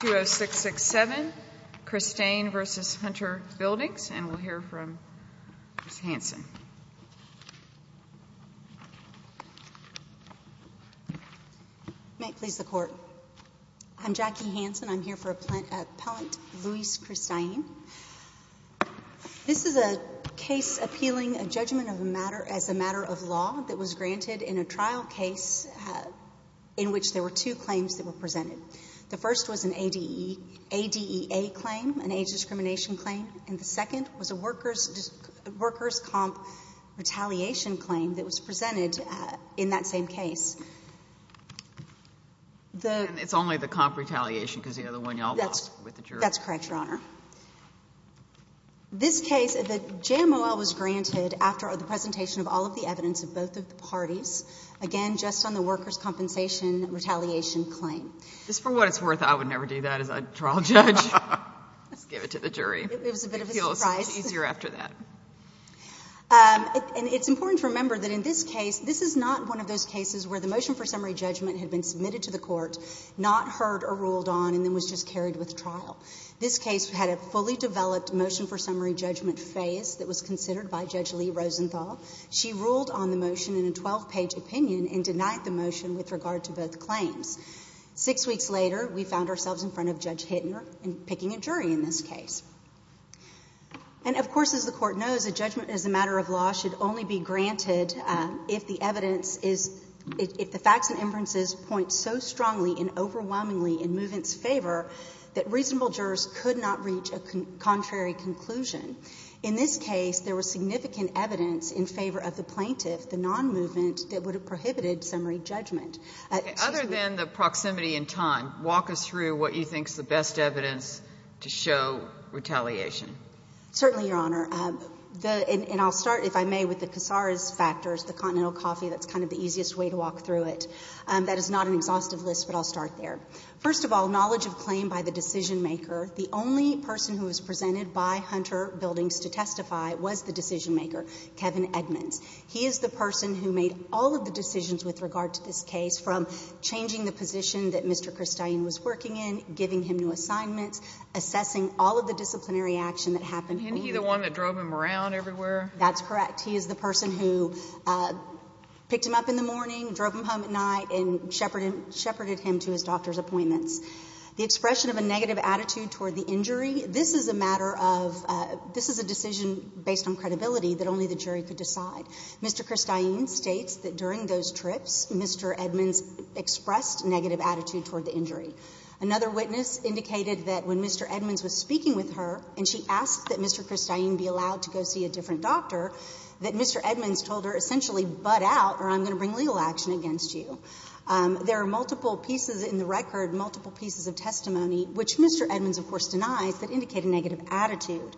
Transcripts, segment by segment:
20667, Cristain v. Hunter Bldgs, and we'll hear from Ms. Hanson. May it please the Court. I'm Jackie Hanson. I'm here for Appellant Luis Cristain. This is a case appealing a judgment as a matter of law that was granted in a trial case in which there were two claims that were presented. The first was an ADEA claim, an age discrimination claim, and the second was a workers' comp retaliation claim that was presented in that same case. And it's only the comp retaliation because the other one you all lost with the jury. That's correct, Your Honor. This case, the JMOL was granted after the presentation of all of the evidence of both of the parties, again, just on the workers' compensation retaliation claim. Just for what it's worth, I would never do that as a trial judge. Just give it to the jury. It was a bit of a surprise. It feels easier after that. And it's important to remember that in this case, this is not one of those cases where the motion for summary judgment had been submitted to the court, not heard or ruled on, and then was just carried with trial. This case had a fully developed motion for summary judgment phase that was considered by Judge Lee Rosenthal. She ruled on the motion in a 12-page opinion and denied the motion with regard to both claims. Six weeks later, we found ourselves in front of Judge Hittner in picking a jury in this case. And, of course, as the Court knows, a judgment as a matter of law should only be granted if the evidence is — if the facts and inferences point so strongly and overwhelmingly in movement's favor that reasonable jurors could not reach a contrary conclusion. In this case, there was significant evidence in favor of the plaintiff, the non-movement, that would have prohibited summary judgment. She's— Kagan. Other than the proximity in time, walk us through what you think is the best evidence to show retaliation. Certainly, Your Honor. And I'll start, if I may, with the Casares factors, the Continental Coffee. That's kind of the easiest way to walk through it. That is not an exhaustive list, but I'll start there. First of all, knowledge of claim by the decisionmaker. The only person who was presented by Hunter Buildings to testify was the decisionmaker, Kevin Edmonds. He is the person who made all of the decisions with regard to this case, from changing the position that Mr. Kristine was working in, giving him new assignments, assessing all of the disciplinary action that happened. Isn't he the one that drove him around everywhere? That's correct. He is the person who picked him up in the morning, drove him home at night, and shepherded him to his doctor's appointments. The expression of a negative attitude toward the injury, this is a matter of — this is a decision based on credibility that only the jury could decide. Mr. Kristine states that during those trips, Mr. Edmonds expressed negative attitude toward the injury. Another witness indicated that when Mr. Edmonds was speaking with her and she asked that Mr. Kristine be allowed to go see a different doctor, that Mr. Edmonds told her essentially, butt out or I'm going to bring legal action against you. There are multiple pieces in the record, multiple pieces of testimony, which Mr. Edmonds of course denies, that indicate a negative attitude.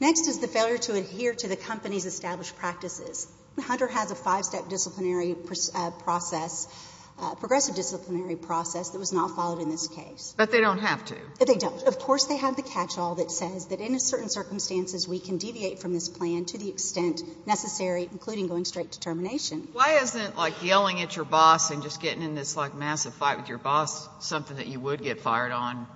Next is the failure to adhere to the company's established practices. Hunter has a five-step disciplinary process, progressive disciplinary process, that was not followed in this case. But they don't have to. They don't. Of course they have the catch-all that says that in certain circumstances we can deviate from this plan to the extent necessary, including going straight to termination. Why isn't, like, yelling at your boss and just getting in this, like, massive fight with your boss something that you would get fired on?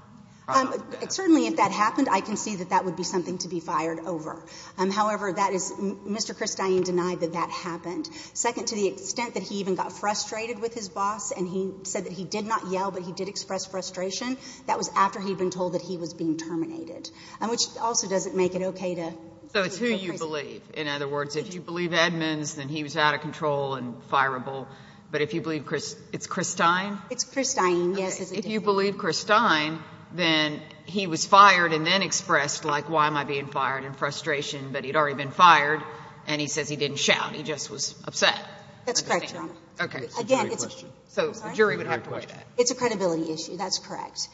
Certainly if that happened, I can see that that would be something to be fired over. However, that is Mr. Kristine denied that that happened. Second, to the extent that he even got frustrated with his boss and he said that he did not yell, but he did express frustration, that was after he had been told that he was being terminated, which also doesn't make it okay to go crazy. So it's who you believe. In other words, if you believe Edmonds, then he was out of control and fireable. But if you believe Kristine? It's Kristine, yes. If you believe Kristine, then he was fired and then expressed, like, why am I being fired, in frustration, but he had already been fired, and he says he didn't shout, he just was upset. That's correct, Your Honor. Okay. Again, it's a jury question. I'm sorry? It's a jury question. It's a credibility issue. That's correct.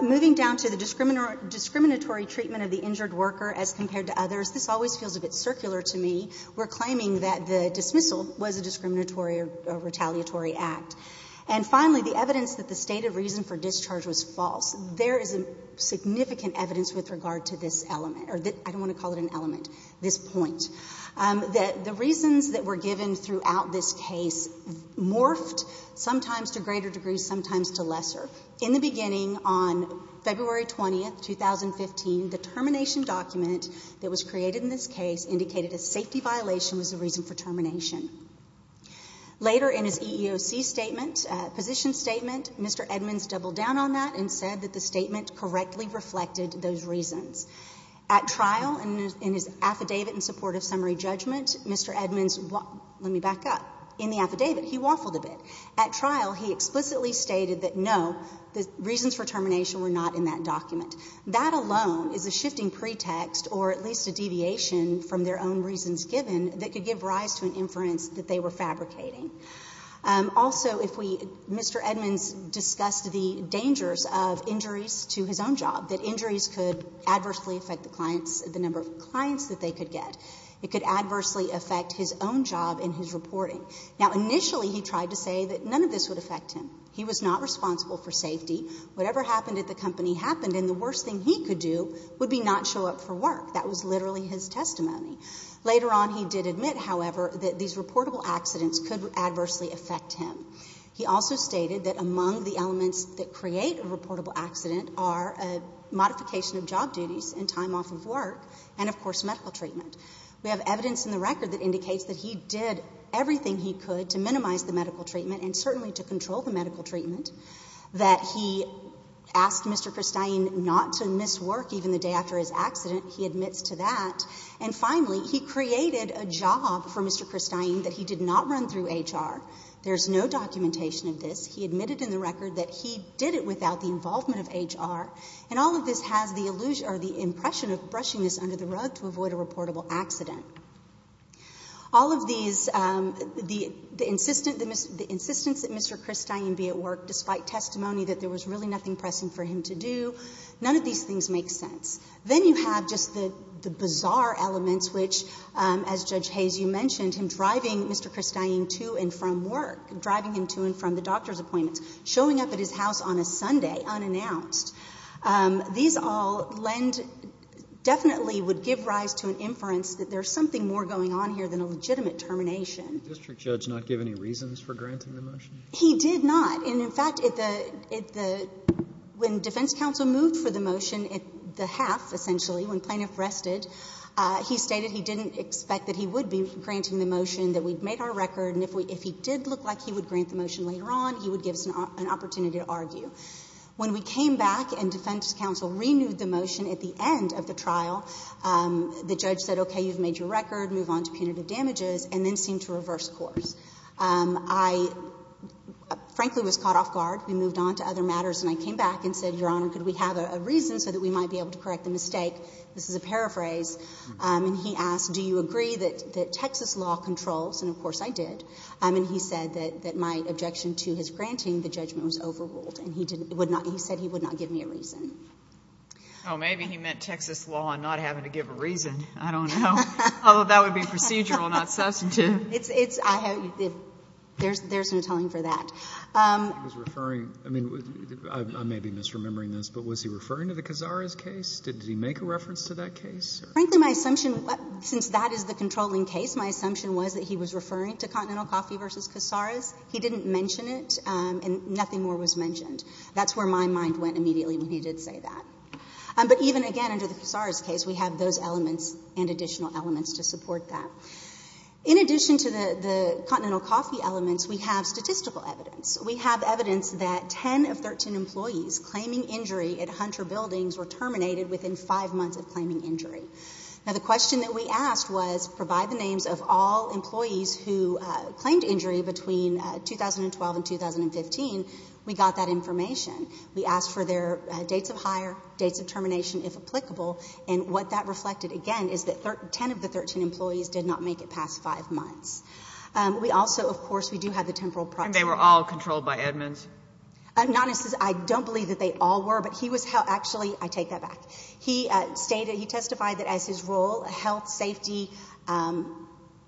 Moving down to the discriminatory treatment of the injured worker as compared to others, this always feels a bit circular to me. We're claiming that the dismissal was a discriminatory or retaliatory act. And finally, the evidence that the stated reason for discharge was false. There is significant evidence with regard to this element, or I don't want to call it an element, this point, that the reasons that were given throughout this case morphed sometimes to greater degrees, sometimes to lesser. In the beginning, on February 20th, 2015, the termination document that was created in this case indicated a safety violation was the reason for termination. Later in his EEOC statement, position statement, Mr. Edmonds doubled down on that and said that the statement correctly reflected those reasons. At trial, in his affidavit in support of summary judgment, Mr. Edmonds, let me back up, in the affidavit, he waffled a bit. At trial, he explicitly stated that, no, the reasons for termination were not in that document. That alone is a shifting pretext or at least a deviation from their own reasons given that could give rise to an inference that they were fabricating. Also, if we Mr. Edmonds discussed the dangers of injuries to his own job, that injuries could adversely affect the clients, the number of clients that they could get. It could adversely affect his own job in his reporting. Now, initially, he tried to say that none of this would affect him. He was not responsible for safety. Whatever happened at the company happened, and the worst thing he could do would be not show up for work. That was literally his testimony. Later on, he did admit, however, that these reportable accidents could adversely affect him. He also stated that among the elements that create a reportable accident are a modification of job duties and time off of work and, of course, medical treatment. We have evidence in the record that indicates that he did everything he could to minimize the medical treatment and certainly to control the medical treatment, that he asked Mr. Kristine not to miss work even the day after his accident. He admits to that. And finally, he created a job for Mr. Kristine that he did not run through HR. There is no documentation of this. He admitted in the record that he did it without the involvement of HR. And all of this has the illusion or the impression of brushing this under the rug to avoid a reportable accident. All of these, the insistence that Mr. Kristine be at work despite testimony that there was really nothing pressing for him to do, none of these things make sense. Then you have just the bizarre elements, which, as Judge Hayes, you mentioned, him driving Mr. Kristine to and from work, driving him to and from the doctor's appointments, showing up at his house on a Sunday unannounced. These all lend, definitely would give rise to an inference that there is something more going on here than a legitimate termination. The district judge not give any reasons for granting the motion? He did not. And, in fact, when defense counsel moved for the motion, the half, essentially, when plaintiff rested, he stated he didn't expect that he would be granting the motion, that we had made our record, and if he did look like he would grant the motion later on, he would give us an opportunity to argue. When we came back and defense counsel renewed the motion at the end of the trial, the judge said, okay, you've made your record, move on to punitive damages, and then seemed to reverse course. I, frankly, was caught off guard. We moved on to other matters, and I came back and said, Your Honor, could we have a reason so that we might be able to correct the mistake? This is a paraphrase. And he asked, do you agree that Texas law controls? And, of course, I did. And he said that my objection to his granting the judgment was overruled. And he said he would not give me a reason. Oh, maybe he meant Texas law and not having to give a reason. I don't know. Although, that would be procedural, not substantive. There's no telling for that. I may be misremembering this, but was he referring to the Cazares case? Did he make a reference to that case? Frankly, my assumption, since that is the controlling case, my assumption was that he was referring to Continental Coffee v. Cazares. He didn't mention it, and nothing more was mentioned. That's where my mind went immediately when he did say that. But even, again, under the Cazares case, we have those elements and additional elements to support that. In addition to the Continental Coffee elements, we have statistical evidence. We have evidence that 10 of 13 employees claiming injury at Hunter Buildings were terminated within five months of claiming injury. Now, the question that we asked was, provide the names of all employees who claimed injury between 2012 and 2015. We got that information. We asked for their dates of hire, dates of termination, if applicable. And what that reflected, again, is that 10 of the 13 employees did not make it past five months. We also, of course, we do have the temporal process. And they were all controlled by admins? I don't believe that they all were. But he was held actually, I take that back. He testified that as his role, health, safety,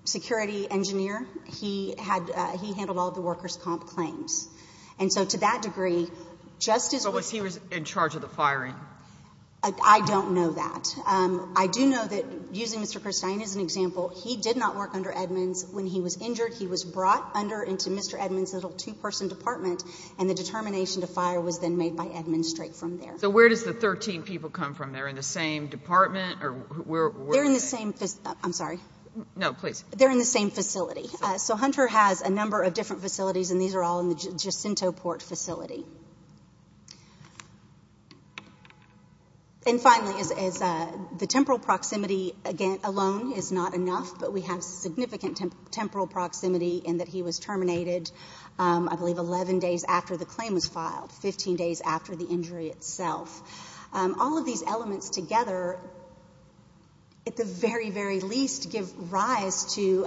security, engineer, he handled all of the workers' comp claims. And so to that degree, just as we— But was he in charge of the firing? I don't know that. I do know that, using Mr. Christine as an example, he did not work under admins when he was injured. He was brought under into Mr. Edmunds' little two-person department, and the determination to fire was then made by Edmunds straight from there. So where does the 13 people come from? They're in the same department? They're in the same—I'm sorry? No, please. They're in the same facility. So Hunter has a number of different facilities, and these are all in the Jacinto Port facility. And finally, the temporal proximity alone is not enough, but we have significant temporal proximity in that he was terminated, I believe, 11 days after the claim was filed, 15 days after the injury itself. All of these elements together, at the very, very least, give rise to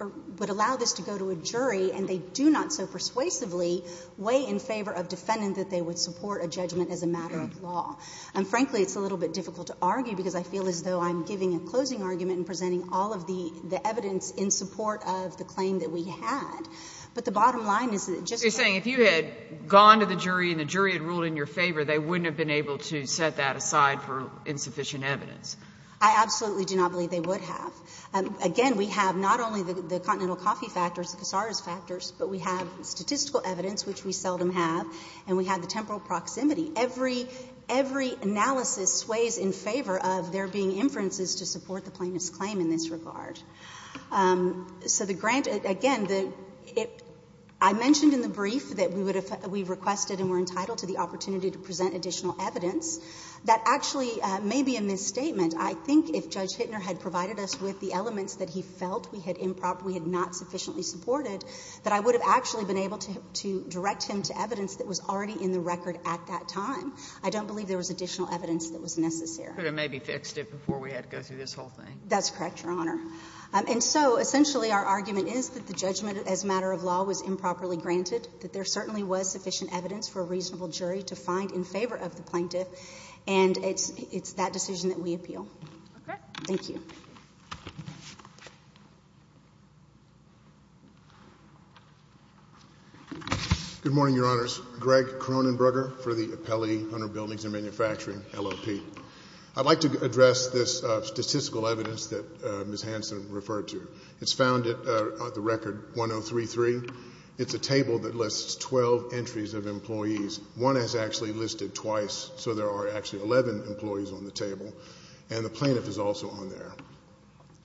or would allow this to go to a jury, and they do not so persuasively weigh in favor of defending that they would support a judgment as a matter of law. And frankly, it's a little bit difficult to argue, because I feel as though I'm giving a closing argument and presenting all of the evidence in support of the claim that we had. But the bottom line is that it just— So you're saying if you had gone to the jury and the jury had ruled in your favor, they wouldn't have been able to set that aside for insufficient evidence. I absolutely do not believe they would have. Again, we have not only the continental coffee factors, the casaras factors, but we have statistical evidence, which we seldom have, and we have the temporal proximity. Every analysis weighs in favor of there being inferences to support the plaintiff's claim in this regard. So the grant, again, I mentioned in the brief that we requested and were entitled to the opportunity to present additional evidence. That actually may be a misstatement. I think if Judge Hittner had provided us with the elements that he felt we had improperly and not sufficiently supported, that I would have actually been able to direct him to evidence that was already in the record at that time. I don't believe there was additional evidence that was necessary. But it maybe fixed it before we had to go through this whole thing. That's correct, Your Honor. And so essentially our argument is that the judgment as a matter of law was improperly granted, that there certainly was sufficient evidence for a reasonable jury to find in favor of the plaintiff, and it's that decision that we appeal. Okay. Thank you. Good morning, Your Honors. Greg Cronenberger for the Appellee Under Buildings and Manufacturing, LLP. I'd like to address this statistical evidence that Ms. Hansen referred to. It's found at the record 1033. It's a table that lists 12 entries of employees. One is actually listed twice, so there are actually 11 employees on the table, and the plaintiff is also on there.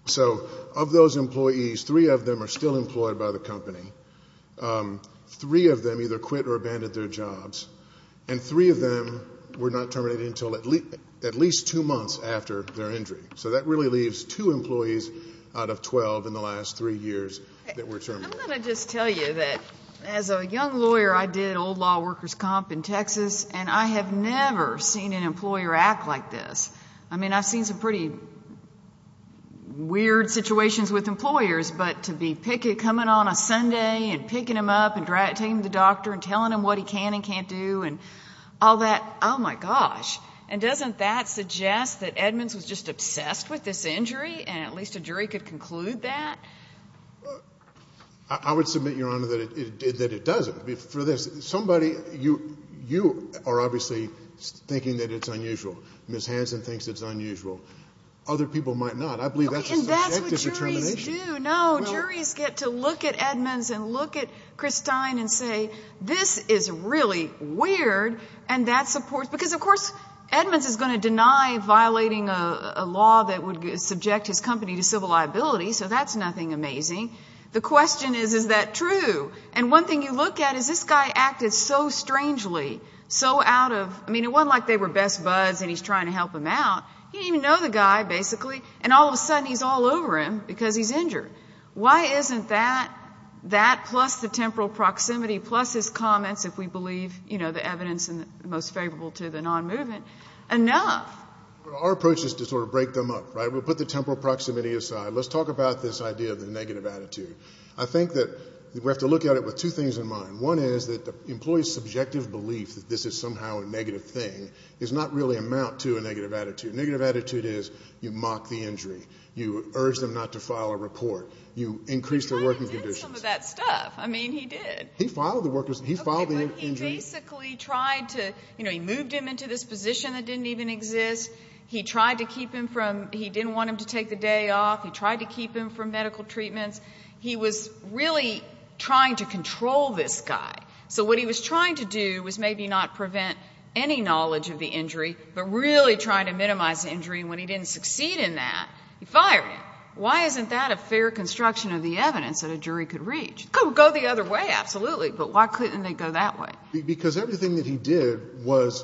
So of those employees, three of them are still employed by the company. Three of them either quit or abandoned their jobs, and three of them were not terminated until at least two months after their injury. So that really leaves two employees out of 12 in the last three years that were terminated. I'm going to just tell you that as a young lawyer, I did old law workers' comp in Texas, and I have never seen an employer act like this. I mean, I've seen some pretty weird situations with employers, but to be coming on a Sunday and picking them up and taking them to the doctor and telling them what he can and can't do and all that, oh, my gosh. And doesn't that suggest that Edmonds was just obsessed with this injury, and at least a jury could conclude that? I would submit, Your Honor, that it doesn't. For this, somebody you are obviously thinking that it's unusual. Ms. Hansen thinks it's unusual. I believe that's a subjective determination. And that's what juries do. I don't know. Juries get to look at Edmonds and look at Chris Stein and say, this is really weird, and that supports because, of course, Edmonds is going to deny violating a law that would subject his company to civil liability, so that's nothing amazing. The question is, is that true? And one thing you look at is this guy acted so strangely, so out of, I mean, it wasn't like they were best buds and he's trying to help them out. He didn't even know the guy, basically, and all of a sudden he's all over him because he's injured. Why isn't that, that plus the temporal proximity, plus his comments, if we believe the evidence most favorable to the non-movement, enough? Our approach is to sort of break them up. We'll put the temporal proximity aside. Let's talk about this idea of the negative attitude. I think that we have to look at it with two things in mind. One is that the employee's subjective belief that this is somehow a negative thing does not really amount to a negative attitude. Negative attitude is you mock the injury. You urge them not to file a report. You increase their working conditions. He did some of that stuff. I mean, he did. He filed the injury. Okay, but he basically tried to, you know, he moved him into this position that didn't even exist. He tried to keep him from, he didn't want him to take the day off. He tried to keep him from medical treatments. He was really trying to control this guy. So what he was trying to do was maybe not prevent any knowledge of the injury but really trying to minimize the injury. And when he didn't succeed in that, he fired him. Why isn't that a fair construction of the evidence that a jury could reach? Go the other way, absolutely. But why couldn't they go that way? Because everything that he did was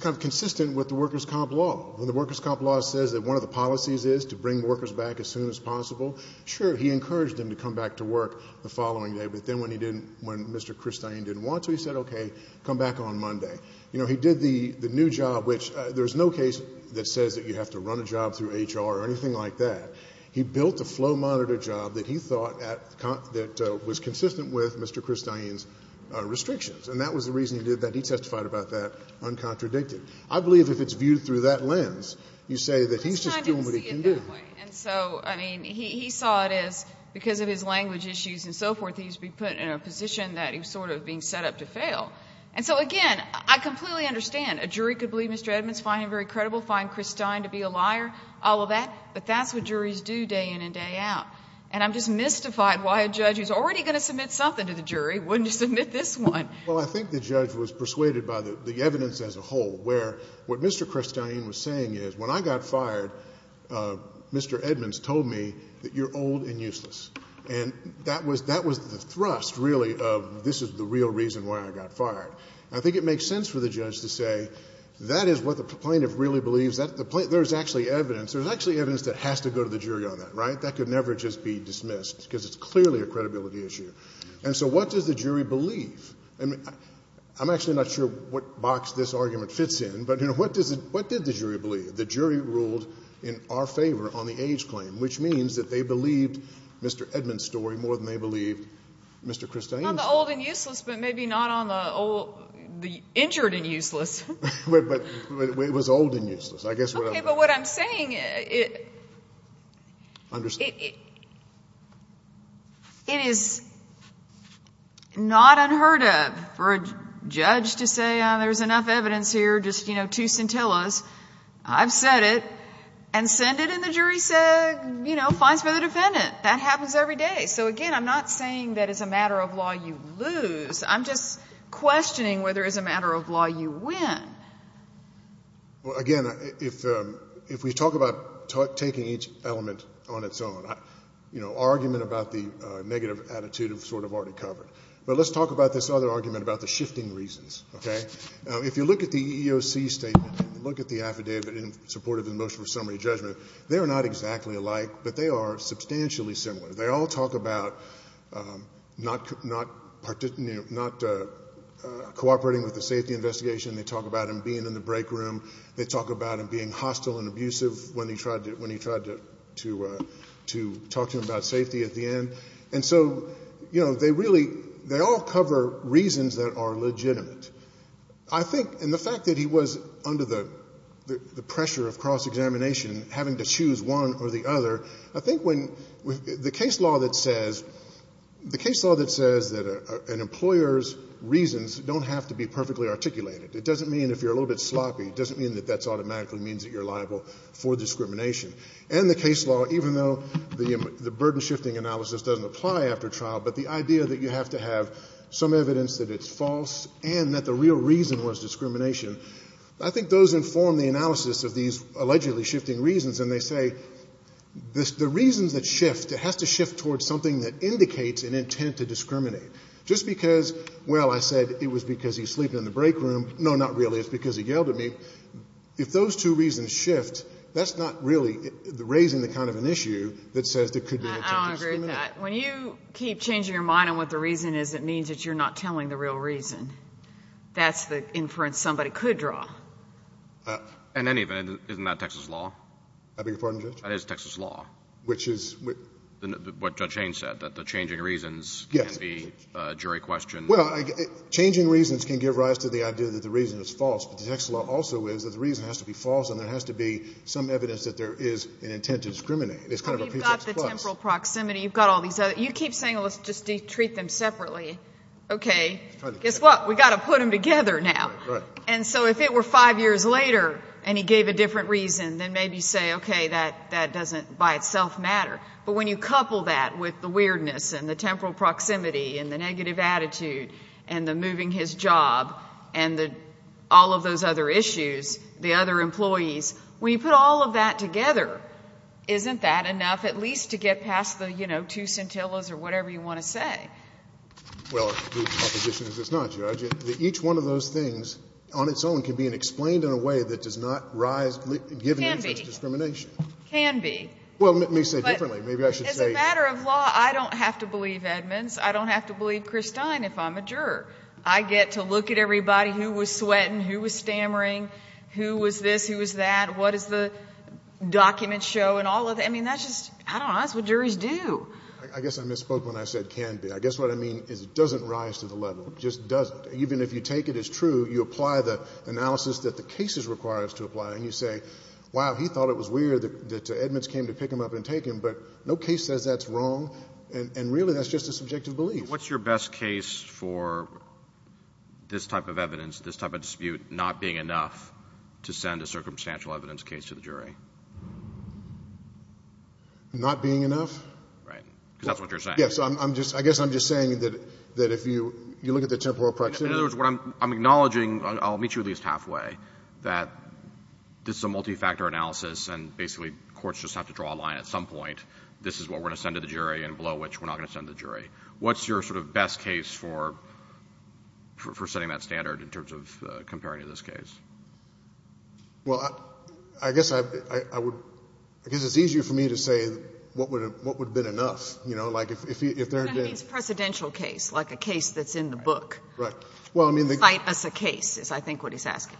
kind of consistent with the workers' comp law. When the workers' comp law says that one of the policies is to bring workers back as soon as possible, sure, he encouraged them to come back to work the following day. But then when he didn't, when Mr. Christine didn't want to, he said, okay, come back on Monday. You know, he did the new job, which there's no case that says that you have to run a job through HR or anything like that. He built a flow monitor job that he thought was consistent with Mr. Christine's restrictions. And that was the reason he did that. He testified about that uncontradicted. I believe if it's viewed through that lens, you say that he's just doing what he can do. Christine didn't see it that way. And so, I mean, he saw it as because of his language issues and so forth, he used to be put in a position that he was sort of being set up to fail. And so, again, I completely understand. A jury could believe Mr. Edmonds, find him very credible, find Christine to be a liar, all of that. But that's what juries do day in and day out. And I'm just mystified why a judge who's already going to submit something to the jury wouldn't submit this one. Well, I think the judge was persuaded by the evidence as a whole, where what Mr. Christine was saying is, when I got fired, Mr. Edmonds told me that you're old and useless. And that was the thrust, really, of this is the real reason why I got fired. I think it makes sense for the judge to say that is what the plaintiff really believes. There's actually evidence. There's actually evidence that has to go to the jury on that, right? That could never just be dismissed because it's clearly a credibility issue. And so what does the jury believe? I mean, I'm actually not sure what box this argument fits in. But, you know, what did the jury believe? The jury ruled in our favor on the age claim, which means that they believed Mr. Edmonds' story more than they believed Mr. Christine's. On the old and useless, but maybe not on the old the injured and useless. But it was old and useless. I guess what I'm saying. Okay. But what I'm saying, it is not unheard of for a judge to say there's enough evidence here, just, you know, two scintillas. I've said it. And send it, and the jury said, you know, fines for the defendant. That happens every day. So, again, I'm not saying that as a matter of law you lose. I'm just questioning whether as a matter of law you win. Well, again, if we talk about taking each element on its own, you know, argument about the negative attitude is sort of already covered. But let's talk about this other argument about the shifting reasons, okay? If you look at the EEOC statement, look at the affidavit in support of the motion for summary judgment, they are not exactly alike, but they are substantially similar. They all talk about not cooperating with the safety investigation. They talk about him being in the break room. They talk about him being hostile and abusive when he tried to talk to him about safety at the end. And so, you know, they really, they all cover reasons that are legitimate. I think in the fact that he was under the pressure of cross-examination, having to choose one or the other, I think when the case law that says, the case law that says that an employer's reasons don't have to be perfectly articulated. It doesn't mean if you're a little bit sloppy, it doesn't mean that that automatically means that you're liable for discrimination. And the case law, even though the burden-shifting analysis doesn't apply after trial, but the idea that you have to have some evidence that it's false and that the real reason was discrimination, I think those inform the analysis of these allegedly shifting reasons, and they say the reasons that shift, it has to shift towards something that indicates an intent to discriminate. Just because, well, I said it was because he's sleeping in the break room, no, not really. It's because he yelled at me. If those two reasons shift, that's not really raising the kind of an issue that says there could be an intent to discriminate. I don't agree with that. When you keep changing your mind on what the reason is, it means that you're not telling the real reason. That's the inference somebody could draw. In any event, isn't that Texas law? I beg your pardon, Judge? That is Texas law. Which is? What Judge Haynes said, that the changing reasons can be jury questions. Well, changing reasons can give rise to the idea that the reason is false, but the reason also is that the reason has to be false and there has to be some evidence that there is an intent to discriminate. You've got the temporal proximity. You've got all these other. You keep saying, well, let's just treat them separately. Okay. Guess what? We've got to put them together now. And so if it were five years later and he gave a different reason, then maybe say, okay, that doesn't by itself matter. But when you couple that with the weirdness and the temporal proximity and the issues, the other employees, when you put all of that together, isn't that enough at least to get past the, you know, two scintillas or whatever you want to say? Well, the proposition is it's not, Judge. Each one of those things on its own can be explained in a way that does not rise, given any sense of discrimination. Can be. Can be. Well, let me say differently. Maybe I should say. As a matter of law, I don't have to believe Edmonds. I don't have to believe Christine if I'm a juror. I get to look at everybody. Who was sweating? Who was stammering? Who was this? Who was that? What does the document show? And all of that. I mean, that's just, I don't know. That's what juries do. I guess I misspoke when I said can be. I guess what I mean is it doesn't rise to the level. It just doesn't. Even if you take it as true, you apply the analysis that the case requires to apply, and you say, wow, he thought it was weird that Edmonds came to pick him up and take him. But no case says that's wrong. And really that's just a subjective belief. What's your best case for this type of evidence, this type of dispute, not being enough to send a circumstantial evidence case to the jury? Not being enough? Right. Because that's what you're saying. Yes. I guess I'm just saying that if you look at the temporal proximity. In other words, what I'm acknowledging, I'll meet you at least halfway, that this is a multifactor analysis and basically courts just have to draw a line at some point. This is what we're going to send to the jury and below which we're not going to send the jury. What's your sort of best case for setting that standard in terms of comparing to this case? Well, I guess I would – I guess it's easier for me to say what would have been enough. You know, like if there had been – It's a presidential case, like a case that's in the book. Right. Well, I mean – Fight us a case is I think what he's asking.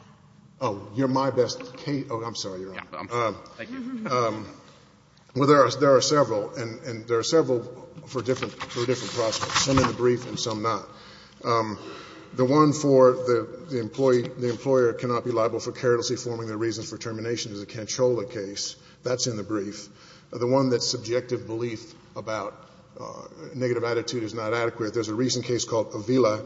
Oh, you're my best – oh, I'm sorry, Your Honor. Thank you. Well, there are several, and there are several for a different prospect, some in the brief and some not. The one for the employee – the employer cannot be liable for carelessly forming their reasons for termination is a Canchola case. That's in the brief. The one that's subjective belief about negative attitude is not adequate. There's a recent case called Avila,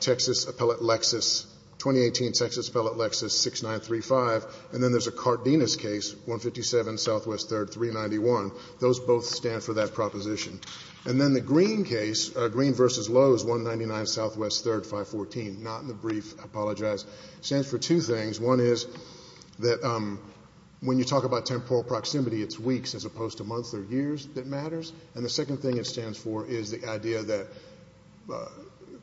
Texas Appellate Lexus, 2018 Texas Appellate Lexus 6935. And then there's a Cardenas case, 157 Southwest 3rd 391. Those both stand for that proposition. And then the Green case, Green v. Lowe's, 199 Southwest 3rd 514, not in the brief. I apologize. It stands for two things. One is that when you talk about temporal proximity, it's weeks as opposed to months or years that matters. And the second thing it stands for is the idea that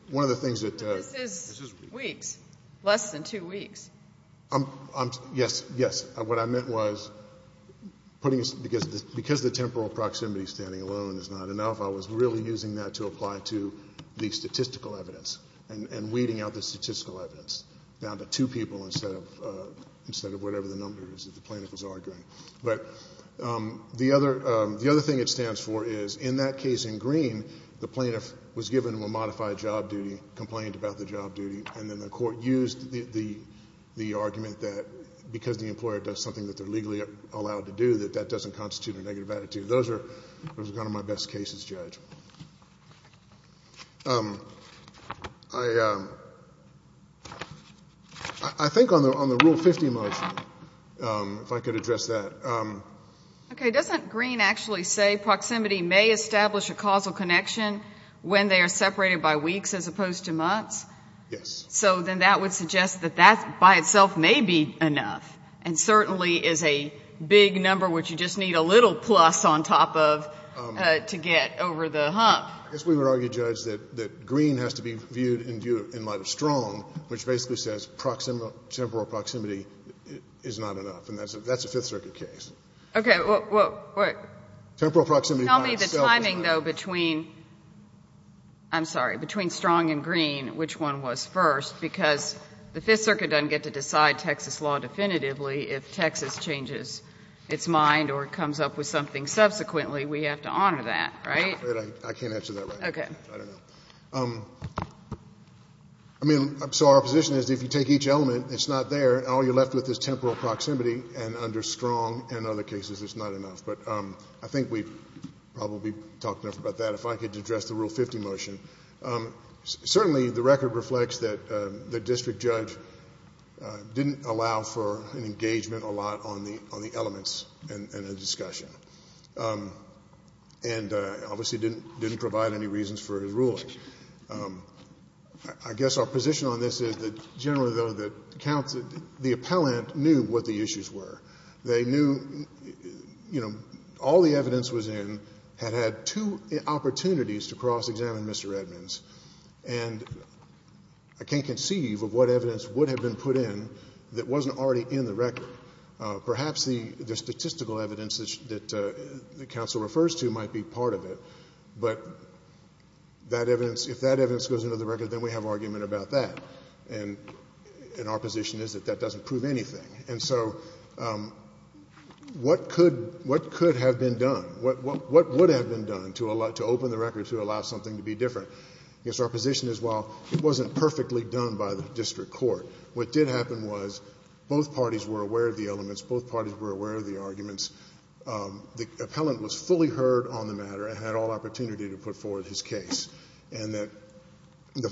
one of the things that – But this is weeks, less than two weeks. Yes, yes. What I meant was because the temporal proximity standing alone is not enough, I was really using that to apply to the statistical evidence and weeding out the statistical evidence down to two people instead of whatever the number is that the plaintiff was arguing. But the other thing it stands for is in that case in Green, the plaintiff was given a modified job duty, complained about the job duty, and then the court used the argument that because the employer does something that they're legally allowed to do, that that doesn't constitute a negative attitude. Those are kind of my best cases, Judge. I think on the Rule 50 motion, if I could address that. Okay. Doesn't Green actually say proximity may establish a causal connection when they are separated by weeks as opposed to months? Yes. So then that would suggest that that by itself may be enough and certainly is a big number which you just need a little plus on top of to get over the hump. I guess we would argue, Judge, that Green has to be viewed in light of Strong, which basically says temporal proximity is not enough. And that's a Fifth Circuit case. Okay. What? Temporal proximity by itself is not enough. I'm sorry. Between Strong and Green, which one was first? Because the Fifth Circuit doesn't get to decide Texas law definitively. If Texas changes its mind or comes up with something subsequently, we have to honor that, right? I can't answer that right now. Okay. I don't know. I mean, so our position is if you take each element, it's not there, and all you're left with is temporal proximity. And under Strong and other cases, it's not enough. But I think we've probably talked enough about that. If I could address the Rule 50 motion. Certainly the record reflects that the district judge didn't allow for an engagement a lot on the elements in the discussion and obviously didn't provide any reasons for his ruling. I guess our position on this is that generally, though, that the appellant knew what the issues were. They knew all the evidence was in had had two opportunities to cross-examine Mr. Edmonds. And I can't conceive of what evidence would have been put in that wasn't already in the record. Perhaps the statistical evidence that the counsel refers to might be part of it. But if that evidence goes into the record, then we have argument about that. And our position is that that doesn't prove anything. And so what could have been done? What would have been done to open the record to allow something to be different? I guess our position is, well, it wasn't perfectly done by the district court. What did happen was both parties were aware of the elements, both parties were aware of the arguments. The appellant was fully heard on the matter and had all opportunity to put forward his case. I mean, how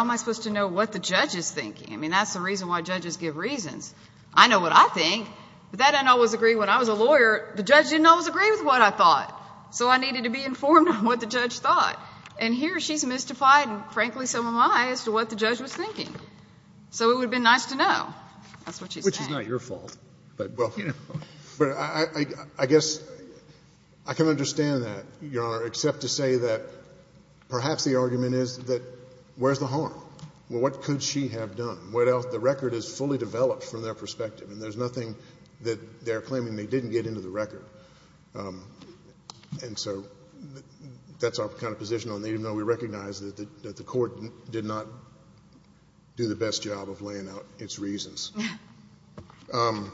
am I supposed to know what the judge is thinking? I mean, that's the reason why judges give reasons. I know what I think. But that didn't always agree when I was a lawyer. The judge didn't always agree with what I thought. So I needed to be informed on what the judge thought. And here she's mystified, and frankly so am I, as to what the judge was thinking. So it would have been nice to know. That's what she's saying. Which is not your fault. But, you know. But I guess I can understand that, Your Honor, except to say that perhaps the argument is that where's the harm? Well, what could she have done? What else? The record is fully developed from their perspective. And there's nothing that they're claiming they didn't get into the record. And so that's our kind of position on it, even though we recognize that the court did not do the best job of laying out its reasons. I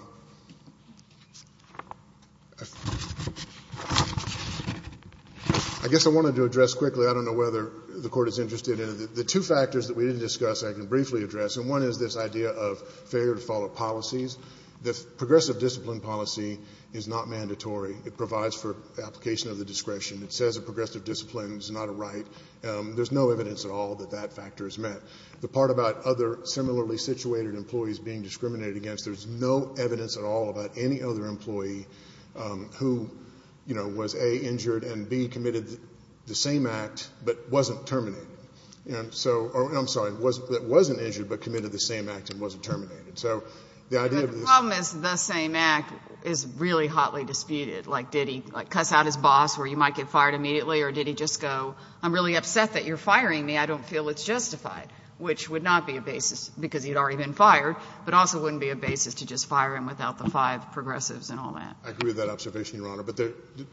guess I wanted to address quickly. I don't know whether the Court is interested in it. The two factors that we didn't discuss I can briefly address. And one is this idea of failure to follow policies. The progressive discipline policy is not mandatory. It provides for application of the discretion. It says a progressive discipline is not a right. There's no evidence at all that that factor is met. The part about other similarly situated employees being discriminated against there's no evidence at all about any other employee who, you know, was, A, injured and, B, committed the same act but wasn't terminated. I'm sorry, wasn't injured but committed the same act and wasn't terminated. The problem is the same act is really hotly disputed. Like, did he cuss out his boss where you might get fired immediately? Or did he just go, I'm really upset that you're firing me. I don't feel it's justified, which would not be a basis because he'd already been fired. But also wouldn't be a basis to just fire him without the five progressives and all that. I agree with that observation, Your Honor. But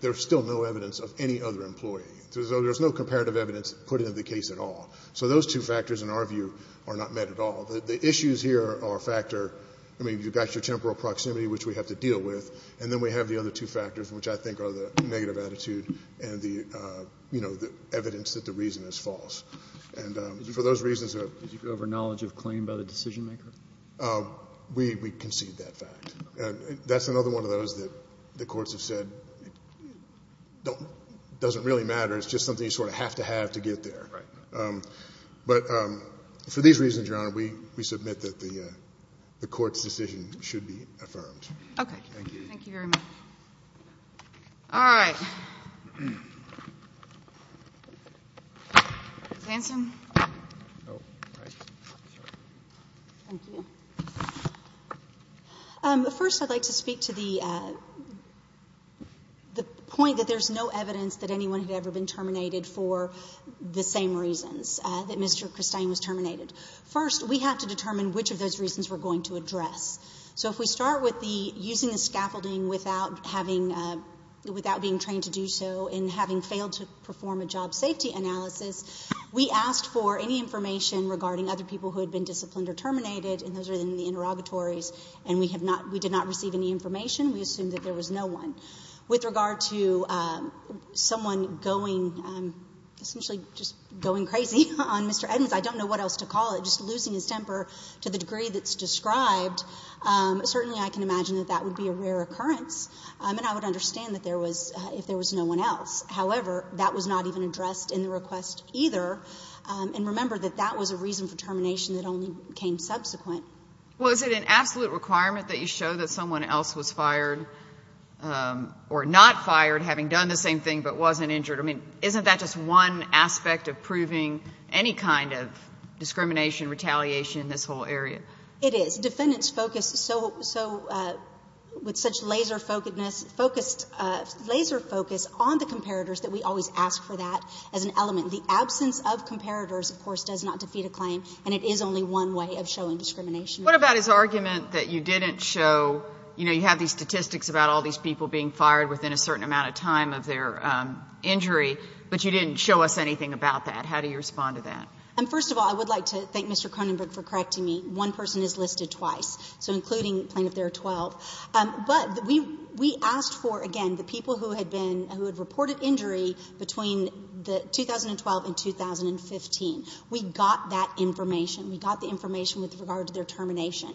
there's still no evidence of any other employee. So there's no comparative evidence put into the case at all. So those two factors, in our view, are not met at all. The issues here are a factor. I mean, you've got your temporal proximity, which we have to deal with. And then we have the other two factors, which I think are the negative attitude and the, you know, the evidence that the reason is false. And for those reasons, there are. We concede that fact. And that's another one of those that the courts have said doesn't really matter. It's just something you sort of have to have to get there. But for these reasons, Your Honor, we submit that the court's decision should be affirmed. Okay. Thank you. Thank you very much. All right. Hanson. Oh, right. Sorry. Thank you. First, I'd like to speak to the point that there's no evidence that anyone had ever been terminated for the same reasons that Mr. Christine was terminated. First, we have to determine which of those reasons we're going to address. So if we start with the using the scaffolding without being trained to do so and having failed to perform a job safety analysis, we asked for any information regarding other people who had been disciplined or terminated, and those are in the interrogatories, and we did not receive any information. We assumed that there was no one. With regard to someone going, essentially just going crazy on Mr. Edmonds, I don't know what else to call it, just losing his temper to the degree that's described, certainly I can imagine that that would be a rare occurrence, and I would understand that there was no one else. However, that was not even addressed in the request either, and remember that that was a reason for termination that only came subsequent. Well, is it an absolute requirement that you show that someone else was fired or not fired having done the same thing but wasn't injured? I mean, isn't that just one aspect of proving any kind of discrimination, retaliation in this whole area? It is. Defendants focus so, with such laser-focusedness, focused, laser focus on the comparators that we always ask for that as an element. The absence of comparators, of course, does not defeat a claim, and it is only one way of showing discrimination. What about his argument that you didn't show, you know, you have these statistics about all these people being fired within a certain amount of time of their injury, but you didn't show us anything about that? How do you respond to that? First of all, I would like to thank Mr. Cronenberg for correcting me. One person is listed twice, so including Plaintiff there are 12. But we asked for, again, the people who had been, who had reported injury between 2012 and 2015. We got that information. We got the information with regard to their termination.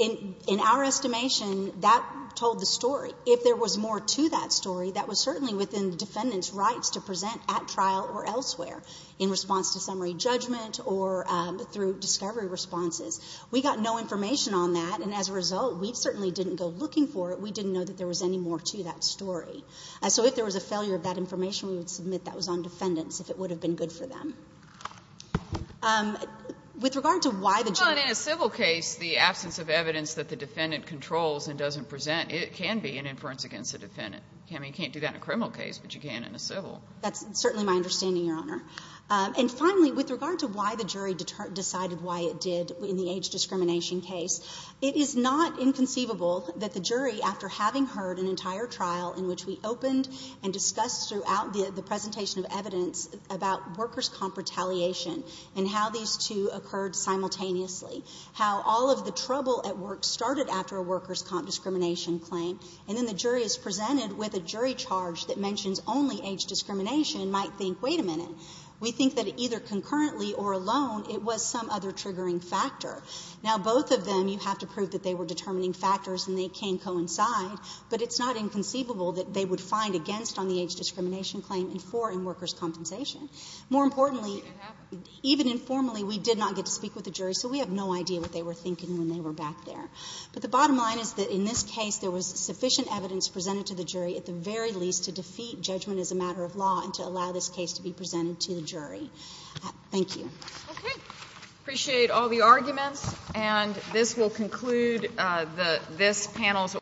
In our estimation, that told the story. If there was more to that story, that was certainly within the defendant's rights to present at trial or elsewhere in response to summary judgment or through discovery responses. We got no information on that, and as a result, we certainly didn't go looking for it. We didn't know that there was any more to that story. So if there was a failure of that information, we would submit that was on defendants, if it would have been good for them. With regard to why the jury… But in a civil case, the absence of evidence that the defendant controls and doesn't present, it can be an inference against the defendant. I mean, you can't do that in a criminal case, but you can in a civil. That's certainly my understanding, Your Honor. And finally, with regard to why the jury decided why it did in the age discrimination case, it is not inconceivable that the jury, after having heard an entire trial in which we opened and discussed throughout the presentation of evidence about workers' comp retaliation and how these two occurred simultaneously, how all of the trouble at work started after a workers' comp discrimination claim, and then the jury is presented with a jury charge that mentions only age discrimination and might think, wait a minute, we think that it either concurrently or alone, it was some other triggering factor. Now, both of them, you have to prove that they were determining factors and they can't coincide, but it's not inconceivable that they would find against on the age discrimination claim and for in workers' compensation. More importantly, even informally, we did not get to speak with the jury, so we have no idea what they were thinking when they were back there. But the bottom line is that in this case there was sufficient evidence presented to the jury at the very least to defeat judgment as a matter of law and to allow this case to be presented to the jury. Thank you. MS.